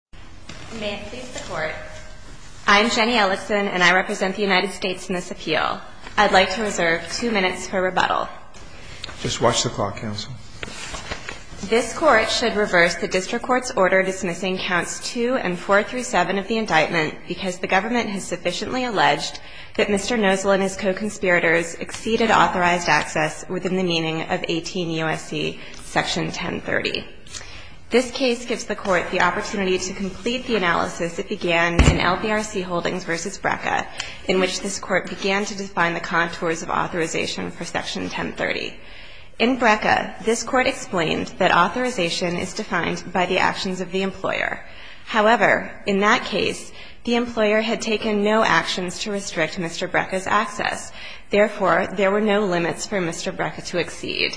and his co-conspirators exceeded authorized access within the meaning of 18 U.S.C. § 1030. This case gives the Court the opportunity to think about whether or not to dismiss the indictment. As a final step in completing our analysis of the case we have decided to conclude it in LPRC Holdings v. Brecca, in which this Court began to define the contours of authorization for section 1030. In Brecca this Court explained that authorization is defined by the actions of the employer. However, in this case the employer had taken no actions to restrict Mr. Brecca's access and therefore there were no limits for Mr. Brecca to exceed.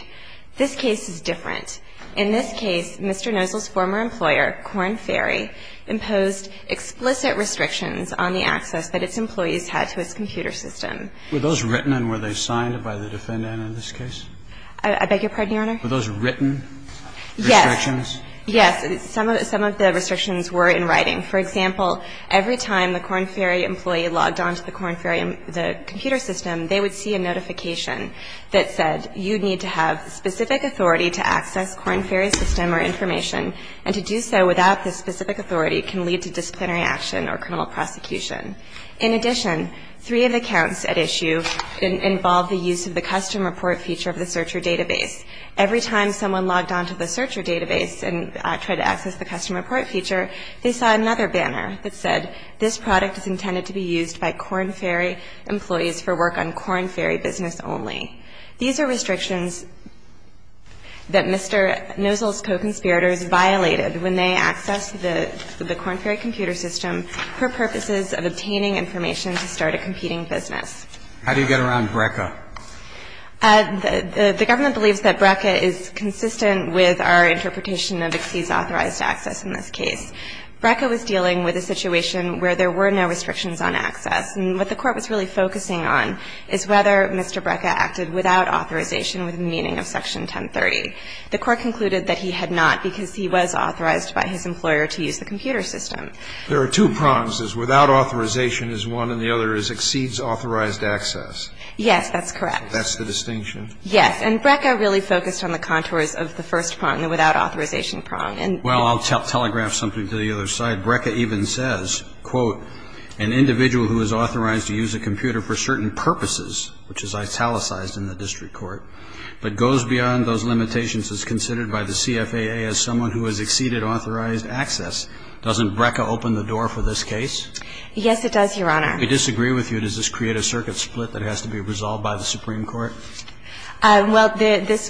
This case is different. In this case, Mr. Nozzle's former employer, Corn Ferry, imposed explicit restrictions on the access that its employees had to its computer system. Were those written and were they signed by the defendant in this case? I beg your pardon, Your Honor? Were those written restrictions? Yes. Yes. Some of the restrictions were in writing. For example, every time the Corn Ferry employee logged on to the Corn Ferry computer system, they would see a notification that said, you need to have specific authority to access Corn Ferry system or information, and to do so without this specific authority can lead to disciplinary action or criminal prosecution. In addition, three of the counts at issue involved the use of the custom report feature of the searcher database. Every time someone logged on to the searcher database and tried to access the custom report feature, they saw another banner that said, this product is intended to be used by Corn Ferry employees for work on Corn Ferry business only. These are restrictions that Mr. Nozzle's co-conspirators violated when they accessed the Corn Ferry computer system for purposes of obtaining information to start a competing business. How do you get around Brecca? The government believes that Brecca is consistent with our interpretation of exceeds authorized access in this case. Brecca was dealing with a situation where there were no restrictions on access. And what the Court was really focusing on is whether Mr. Brecca acted without authorization with meaning of Section 1030. The Court concluded that he had not because he was authorized by his employer to use the computer system. There are two prongs. There's without authorization is one, and the other is exceeds authorized access. Yes, that's correct. That's the distinction? Yes. And Brecca really focused on the contours of the first prong, the without authorization prong. Well, I'll telegraph something to the other side. Brecca even says, quote, an individual who is authorized to use a computer for certain purposes, which is italicized in the district court, but goes beyond those limitations as considered by the CFAA as someone who has exceeded authorized access. Doesn't Brecca open the door for this case? Yes, it does, Your Honor. I disagree with you. Does this create a circuit split that has to be resolved by the Supreme Court? Well, there is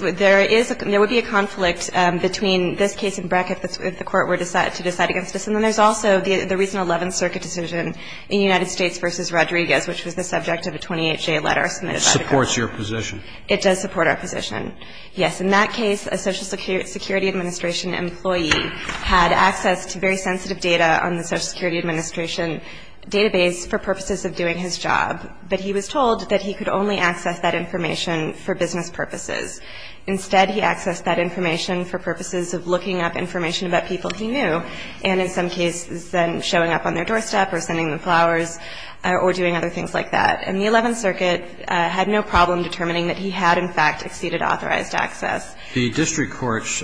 a – there would be a conflict between this case and Brecca if the Court were to decide against this. And then there's also the reason 11th Circuit decision in United States v. Rodriguez, which was the subject of a 28-J letter submitted by the Court. It supports your position. It does support our position, yes. In that case, a Social Security Administration employee had access to very sensitive data on the Social Security Administration database for purposes of doing his job. But he was told that he could only access that information for business purposes. Instead, he accessed that information for purposes of looking up information about people he knew, and in some cases then showing up on their doorstep or sending them flowers or doing other things like that. And the 11th Circuit had no problem determining that he had, in fact, exceeded authorized access. The district courts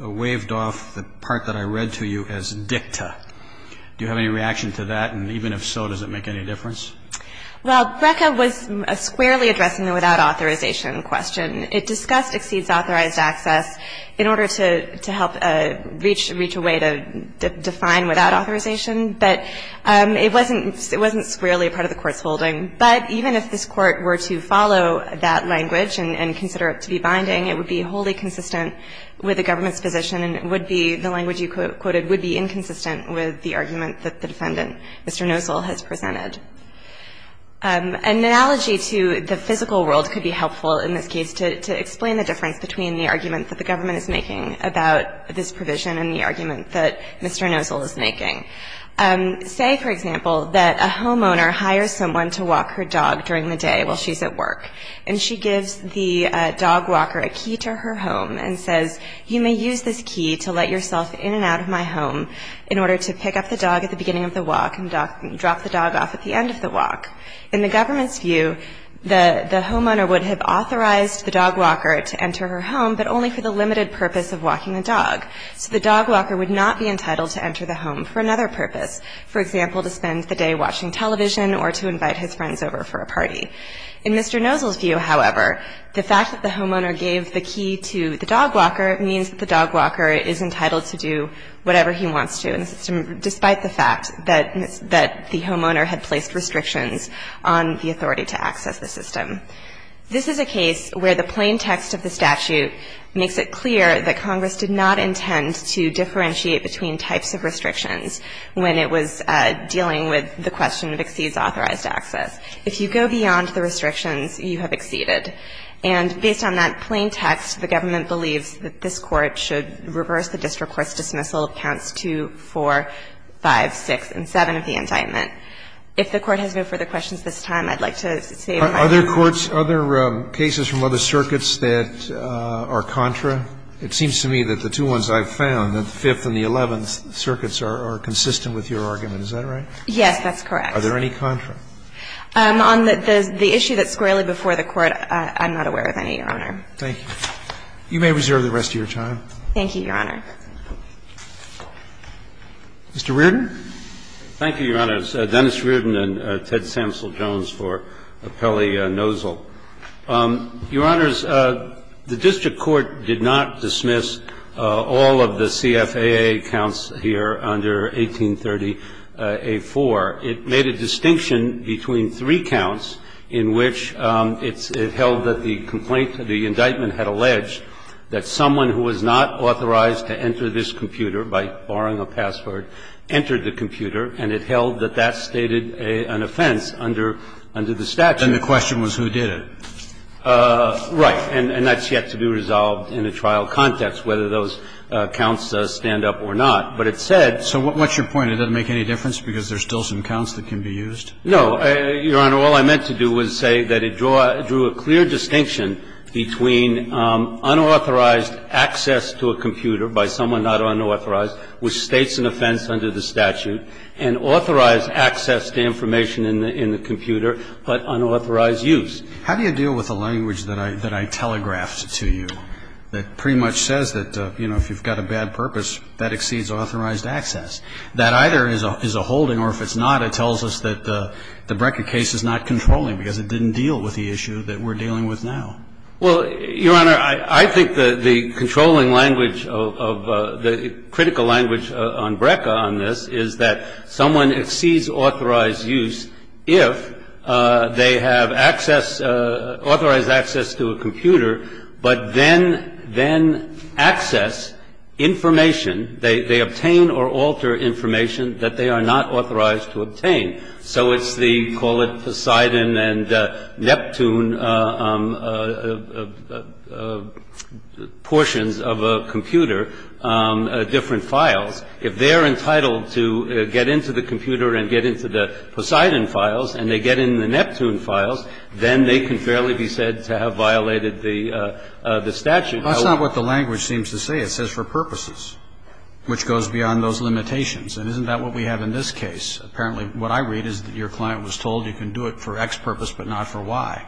waved off the part that I read to you as dicta. Do you have any reaction to that? And even if so, does it make any difference? Well, Brecca was squarely addressing the without authorization question. It discussed exceeds authorized access in order to help reach a way to define without authorization. But it wasn't squarely a part of the Court's holding. But even if this Court were to follow that language and consider it to be binding, it would be wholly consistent with the government's position and would be, the language you quoted, would be inconsistent with the argument that the defendant, Mr. Nosel, has presented. An analogy to the physical world could be helpful in this case to explain the difference between the argument that the government is making about this provision and the argument that Mr. Nosel is making. Say, for example, that a homeowner hires someone to walk her dog during the day while she's at work. And she gives the dog walker a key to her home and says, you may use this key to let yourself in and out of my home in order to pick up the dog at the beginning of the walk and drop the dog off at the end of the walk. In the government's view, the homeowner would have authorized the dog walker to enter her home, but only for the limited purpose of walking the dog. So the dog walker would not be entitled to enter the home for another purpose, for example, to spend the day watching television or to invite his friends over for a party. In Mr. Nosel's view, however, the fact that the homeowner gave the key to the dog walker means that the dog walker is entitled to do whatever he wants to in the system, despite the fact that the homeowner had placed restrictions on the authority to access the system. This is a case where the plain text of the statute makes it clear that Congress did not intend to differentiate between types of restrictions when it was dealing with the question of exceeds authorized access. If you go beyond the restrictions, you have exceeded. And based on that plain text, the government believes that this Court should reverse the district court's dismissal of counts 2, 4, 5, 6, and 7 of the indictment. If the Court has no further questions at this time, I'd like to save my time. Are there courts, are there cases from other circuits that are contra? It seems to me that the two ones I've found, the Fifth and the Eleventh Circuits are consistent with your argument. Is that right? Yes, that's correct. Are there any contra? On the issue that's squarely before the Court, I'm not aware of any, Your Honor. Thank you. You may reserve the rest of your time. Thank you, Your Honor. Mr. Reardon. Thank you, Your Honors. Dennis Reardon and Ted Samsel-Jones for Appelli-Nosel. Your Honors, the district court did not dismiss all of the CFAA counts here under 1830a4. It made a distinction between three counts in which it held that the complaint of the indictment had alleged that someone who was not authorized to enter this computer by borrowing a password entered the computer, and it held that that stated an offense under the statute. And the question was who did it? Right. And that's yet to be resolved in a trial context, whether those counts stand up or not. But it said. So what's your point? It doesn't make any difference because there's still some counts that can be used? No. Your Honor, all I meant to do was say that it drew a clear distinction between unauthorized access to a computer by someone not unauthorized which states an offense under the statute and authorized access to information in the computer but unauthorized use. How do you deal with a language that I telegraphed to you that pretty much says that, you know, if you've got a bad purpose, that exceeds authorized access? That either is a holding or if it's not, it tells us that the Breka case is not controlling because it didn't deal with the issue that we're dealing with now. Well, Your Honor, I think the controlling language of the critical language on Breka on this is that someone exceeds authorized use if they have access, authorized access to a computer, and they have access to a computer, they have access to a computer, they can access information, they obtain or alter information that they are not authorized to obtain. So it's the call it Poseidon and Neptune portions of a computer, different files. If they're entitled to get into the computer and get into the Poseidon files and they get in the Neptune files, then they can fairly be said to have violated the statute. That's not what the language seems to say. It says for purposes, which goes beyond those limitations. And isn't that what we have in this case? Apparently what I read is that your client was told you can do it for X purpose but not for Y.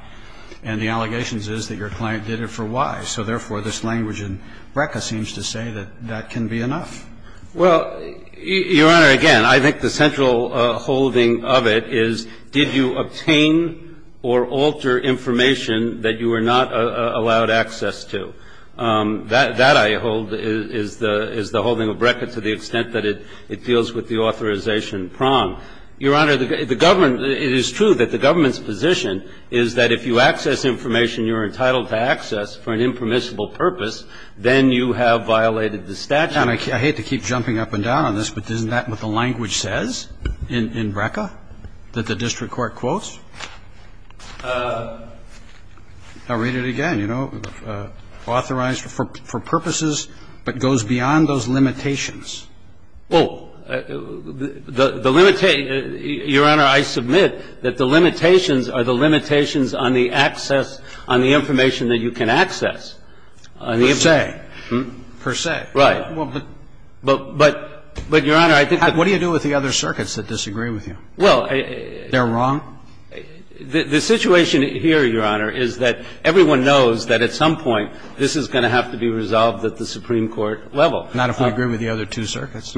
And the allegations is that your client did it for Y. So, therefore, this language in Breka seems to say that that can be enough. Well, Your Honor, again, I think the central holding of it is did you obtain or alter information that you were not allowed access to? That, I hold, is the holding of Breka to the extent that it deals with the authorization prong. Your Honor, the government, it is true that the government's position is that if you access information you're entitled to access for an impermissible purpose, then you have violated the statute. Now, I hate to keep jumping up and down on this, but isn't that what the language says in Breka, that the district court quotes? I'll read it again, you know, authorized for purposes but goes beyond those limitations. Well, the limitation, Your Honor, I submit that the limitations are the limitations on the access, on the information that you can access. Per se. Per se. Right. But, Your Honor, I think that What do you do with the other circuits that disagree with you? Well, I They're wrong? The situation here, Your Honor, is that everyone knows that at some point this is going to have to be resolved at the Supreme Court level. Not if we agree with the other two circuits?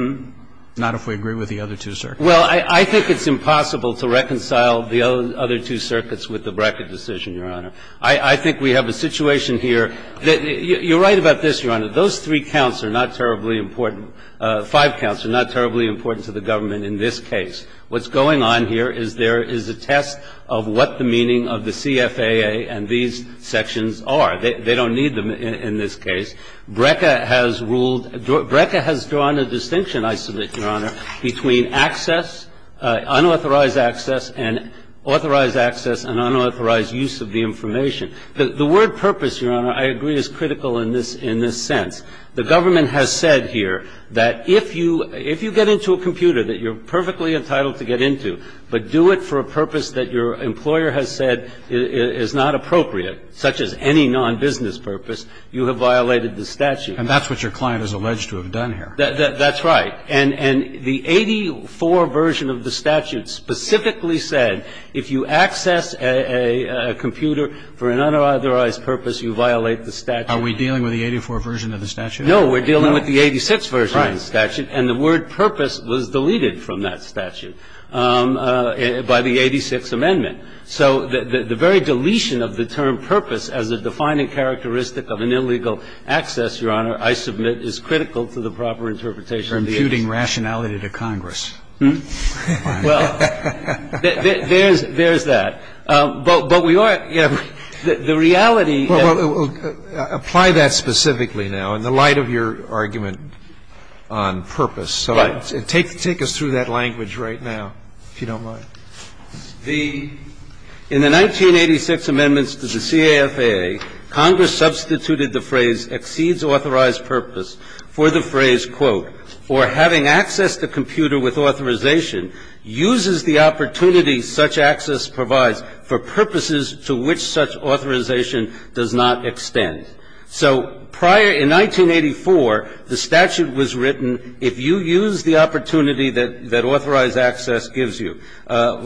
Not if we agree with the other two circuits? Well, I think it's impossible to reconcile the other two circuits with the Breka decision, Your Honor. I think we have a situation here that you're right about this, Your Honor. Those three counts are not terribly important. Five counts are not terribly important to the government in this case. What's going on here is there is a test of what the meaning of the CFAA and these sections are. They don't need them in this case. Breka has ruled Breka has drawn a distinction, I submit, Your Honor, between access, unauthorized access and authorized access and unauthorized use of the information. The word purpose, Your Honor, I agree is critical in this sense. The government has said here that if you get into a computer that you're perfectly entitled to get into, but do it for a purpose that your employer has said is not appropriate, such as any nonbusiness purpose, you have violated the statute. And that's what your client is alleged to have done here. That's right. And the 84 version of the statute specifically said if you access a computer for an unauthorized purpose, you violate the statute. Are we dealing with the 84 version of the statute? No, we're dealing with the 86 version of the statute. And the word purpose was deleted from that statute by the 86 amendment. So the very deletion of the term purpose as a defining characteristic of an illegal access, Your Honor, I submit is critical to the proper interpretation of the 86. You're imputing rationality to Congress. Well, there's that. But we are the reality. Apply that specifically now in the light of your argument on purpose. Right. Take us through that language right now, if you don't mind. In the 1986 amendments to the CAFAA, Congress substituted the phrase exceeds authorized purpose for the phrase, quote, or having access to a computer with authorization uses the opportunity such access provides for purposes to which such authorization does not extend. So prior, in 1984, the statute was written, if you use the opportunity that authorized access gives you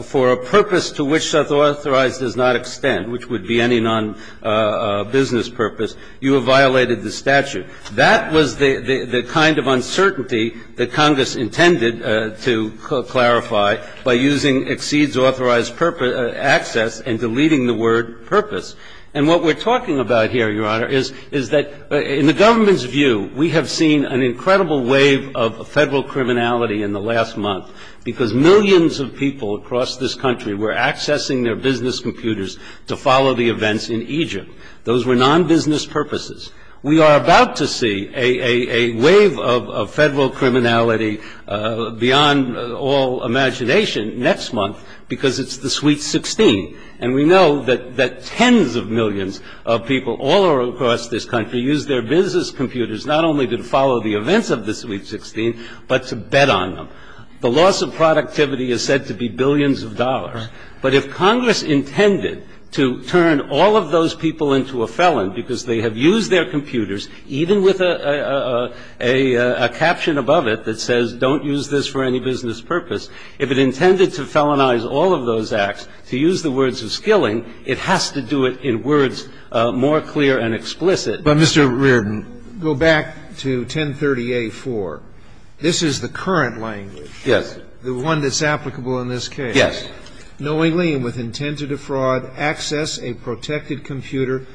for a purpose to which such authorized does not extend, which would be any nonbusiness purpose, you have violated the statute. That was the kind of uncertainty that Congress intended to clarify by using exceeds authorized purpose access and deleting the word purpose. And what we're talking about here, Your Honor, is that in the government's view, we have seen an incredible wave of Federal criminality in the last month because millions of people across this country were accessing their business computers to follow the events in Egypt. Those were nonbusiness purposes. We are about to see a wave of Federal criminality beyond all imagination next month because it's the Sweet 16. And we know that tens of millions of people all across this country use their business computers not only to follow the events of the Sweet 16, but to bet on them. The loss of productivity is said to be billions of dollars. But if Congress intended to turn all of those people into a felon because they have used their computers, even with a caption above it that says, don't use this for any business purpose, if it intended to felonize all of those acts, to use the words of skilling, it has to do it in words more clear and explicit. But, Mr. Reardon. Go back to 1030A4. This is the current language. Yes. The one that's applicable in this case. Yes. Knowingly and with intent to defraud, access a protected computer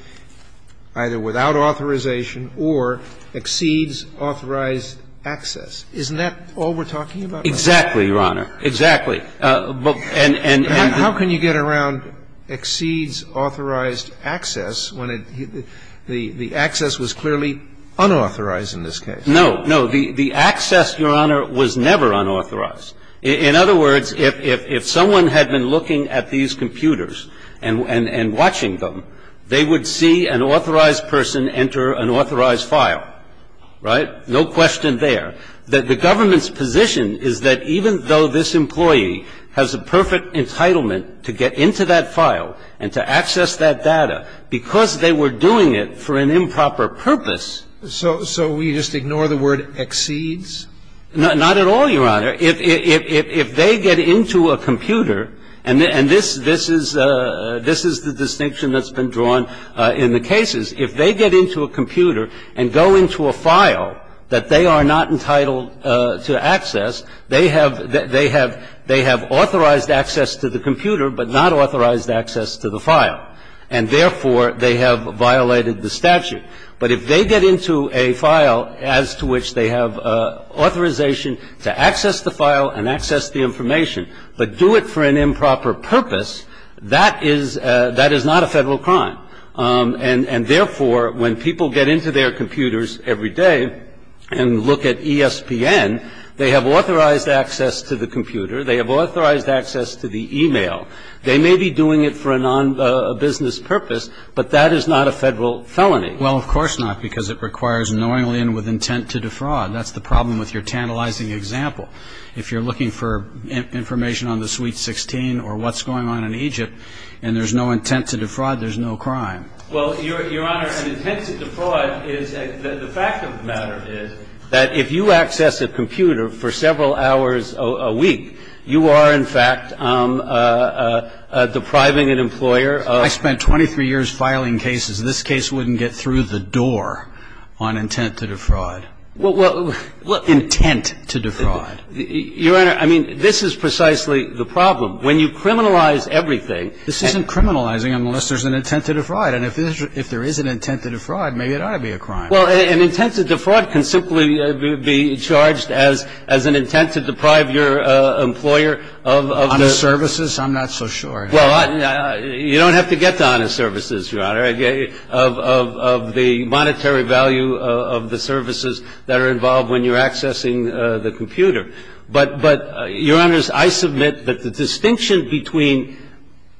either without authorization or exceeds authorized access. Isn't that all we're talking about? Exactly, Your Honor. And how can you get around exceeds authorized access when it the access to a computer was clearly unauthorized in this case? No. The access, Your Honor, was never unauthorized. In other words, if someone had been looking at these computers and watching them, they would see an authorized person enter an authorized file. Right? No question there. The government's position is that even though this employee has a perfect entitlement to get into that file and to access that data, because they were doing it for an improper purpose. So we just ignore the word exceeds? Not at all, Your Honor. If they get into a computer, and this is the distinction that's been drawn in the cases, if they get into a computer and go into a file that they are not entitled to access, they have authorized access to the computer, but not authorized access to the file. And therefore, they have violated the statute. But if they get into a file as to which they have authorization to access the file and access the information, but do it for an improper purpose, that is not a Federal crime. And therefore, when people get into their computers every day and look at ESPN, they have authorized access to the computer. They have authorized access to the e-mail. They may be doing it for a non-business purpose, but that is not a Federal felony. Well, of course not, because it requires knowingly and with intent to defraud. That's the problem with your tantalizing example. If you're looking for information on the suite 16 or what's going on in Egypt, and there's no intent to defraud, there's no crime. Well, Your Honor, an intent to defraud is the fact of the matter is that if you access a computer for several hours a week, you are in fact depriving an employer of ---- I spent 23 years filing cases. This case wouldn't get through the door on intent to defraud. Well, what ---- Intent to defraud. Your Honor, I mean, this is precisely the problem. When you criminalize everything ---- This isn't criminalizing unless there's an intent to defraud. And if there is an intent to defraud, maybe it ought to be a crime. Well, an intent to defraud can simply be charged as an intent to deprive your employer of the ---- Honest services? I'm not so sure. Well, you don't have to get to honest services, Your Honor, of the monetary value of the services that are involved when you're accessing the computer. But, Your Honor, I submit that the distinction between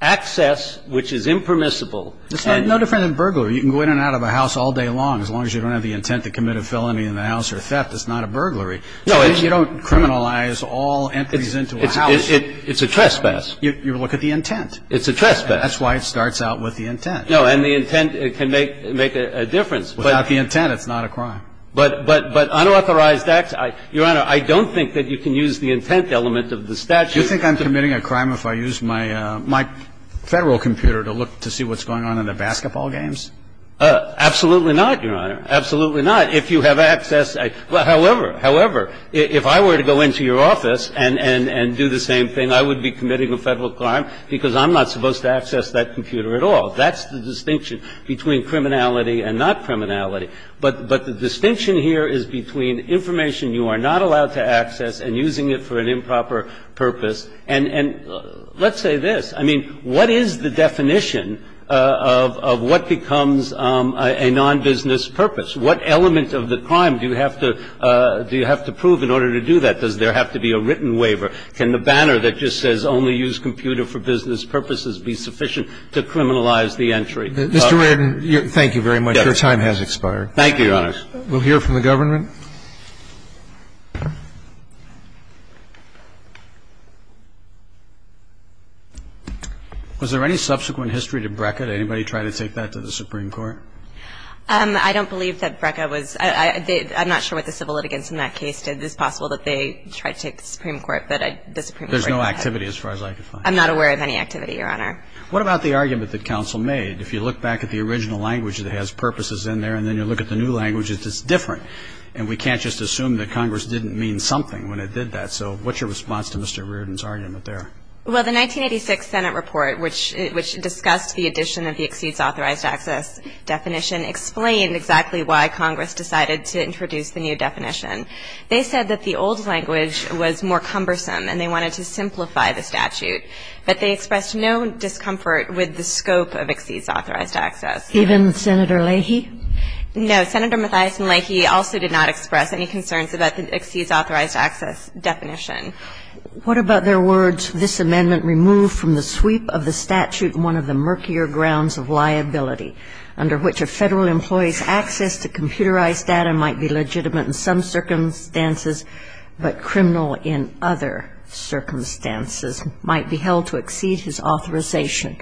access, which is impermissible and ---- It's no different than burglary. You can go in and out of a house all day long as long as you don't have the intent to commit a felony in the house or theft. It's not a burglary. No, it's ---- You don't criminalize all entries into a house. It's a trespass. You look at the intent. It's a trespass. That's why it starts out with the intent. No, and the intent can make a difference. Without the intent, it's not a crime. But unauthorized acts, Your Honor, I don't think that you can use the intent element of the statute. Do you think I'm committing a crime if I use my Federal computer to look to see what's going on in the basketball games? Absolutely not, Your Honor. Absolutely not. If you have access ---- However, if I were to go into your office and do the same thing, I would be committing a Federal crime because I'm not supposed to access that computer at all. That's the distinction between criminality and not criminality. But the distinction here is between information you are not allowed to access and using it for an improper purpose. And let's say this. I mean, what is the definition of what becomes a nonbusiness purpose? What element of the crime do you have to prove in order to do that? Does there have to be a written waiver? Can the banner that just says only use computer for business purposes be sufficient to criminalize the entry? Mr. Redden, thank you very much. Your time has expired. Thank you, Your Honor. We'll hear from the government. Was there any subsequent history to BRCA? Did anybody try to take that to the Supreme Court? I don't believe that BRCA was ---- I'm not sure what the civil litigants in that case did. It's possible that they tried to take it to the Supreme Court, but the Supreme Court ---- There's no activity as far as I can find. I'm not aware of any activity, Your Honor. What about the argument that counsel made? If you look back at the original language that has purposes in there and then you look at the new language, it's different, and we can't just assume that Congress didn't mean something when it did that. So what's your response to Mr. Redden's argument there? Well, the 1986 Senate report, which discussed the addition of the exceeds authorized access definition, explained exactly why Congress decided to introduce the new definition. They said that the old language was more cumbersome and they wanted to simplify the statute. But they expressed no discomfort with the scope of exceeds authorized access. Even Senator Leahy? No. Senator Mathias and Leahy also did not express any concerns about the exceeds authorized access definition. What about their words, This amendment removed from the sweep of the statute one of the murkier grounds of liability, under which a Federal employee's access to computerized data might be legitimate in some circumstances but criminal in other circumstances might be held to exceed his authorization.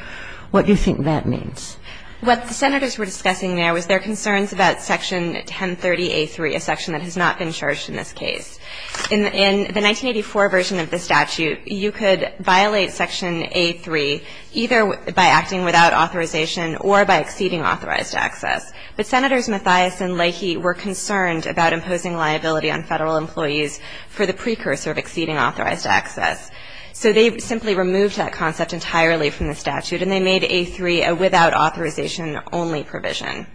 What do you think that means? What the Senators were discussing there was their concerns about Section 1030a3, a section that has not been charged in this case. In the 1984 version of the statute, you could violate Section a3 either by acting without authorization or by exceeding authorized access. But Senators Mathias and Leahy were concerned about imposing liability on Federal employees for the precursor of exceeding authorized access. So they simply removed that concept entirely from the statute and they made a3 a without authorization only provision.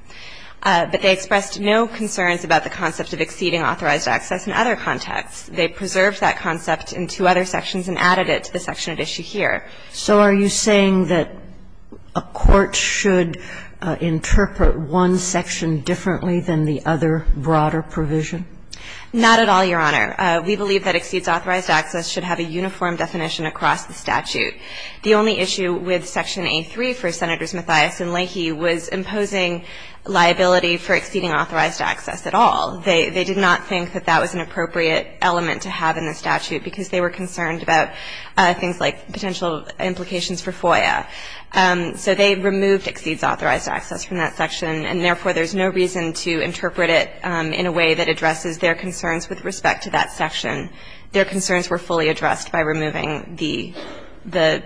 But they expressed no concerns about the concept of exceeding authorized access in other contexts. They preserved that concept in two other sections and added it to the section at issue here. So are you saying that a court should interpret one section differently than the other broader provision? Not at all, Your Honor. We believe that exceeds authorized access should have a uniform definition across the statute. The only issue with Section a3 for Senators Mathias and Leahy was imposing liability for exceeding authorized access at all. They did not think that that was an appropriate element to have in the statute because they were concerned about things like potential implications for FOIA. So they removed exceeds authorized access from that section and therefore there's no reason to interpret it in a way that addresses their concerns with respect to that section. Their concerns were fully addressed by removing the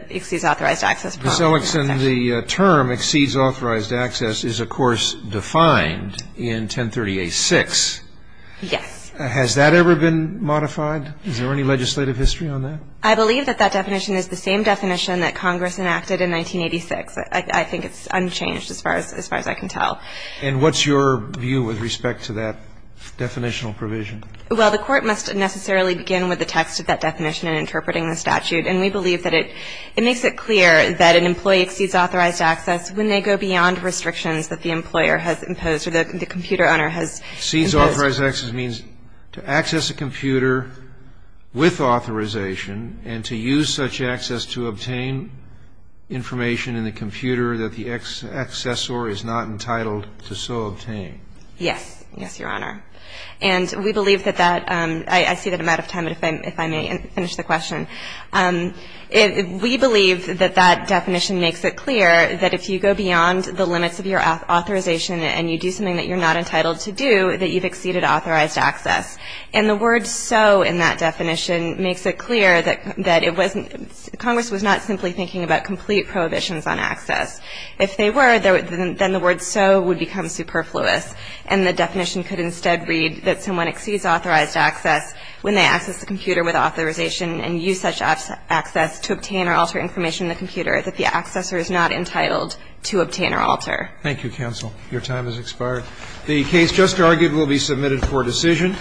exceeds authorized access. Ms. Ellickson, the term exceeds authorized access is, of course, defined in 1038-6. Yes. Has that ever been modified? Is there any legislative history on that? I believe that that definition is the same definition that Congress enacted in 1986. I think it's unchanged as far as I can tell. And what's your view with respect to that definitional provision? Well, the Court must necessarily begin with the text of that definition in interpreting the statute. And we believe that it makes it clear that an employee exceeds authorized access when they go beyond restrictions that the employer has imposed or that the computer owner has imposed. Exceeds authorized access means to access a computer with authorization and to use such access to obtain information in the computer that the accessor is not entitled to so obtain. Yes. Yes, Your Honor. And we believe that that ‑‑ I see that I'm out of time, but if I may finish the question. We believe that that definition makes it clear that if you go beyond the limits of your authorization and you do something that you're not entitled to do, that you've exceeded authorized access. And the word so in that definition makes it clear that it wasn't ‑‑ Congress was not simply thinking about complete prohibitions on access. If they were, then the word so would become superfluous, and the definition could instead read that someone exceeds authorized access when they access a computer with authorization and use such access to obtain or alter information in the computer that the accessor is not entitled to obtain or alter. Thank you, counsel. Your time has expired. The case just argued will be submitted for decision.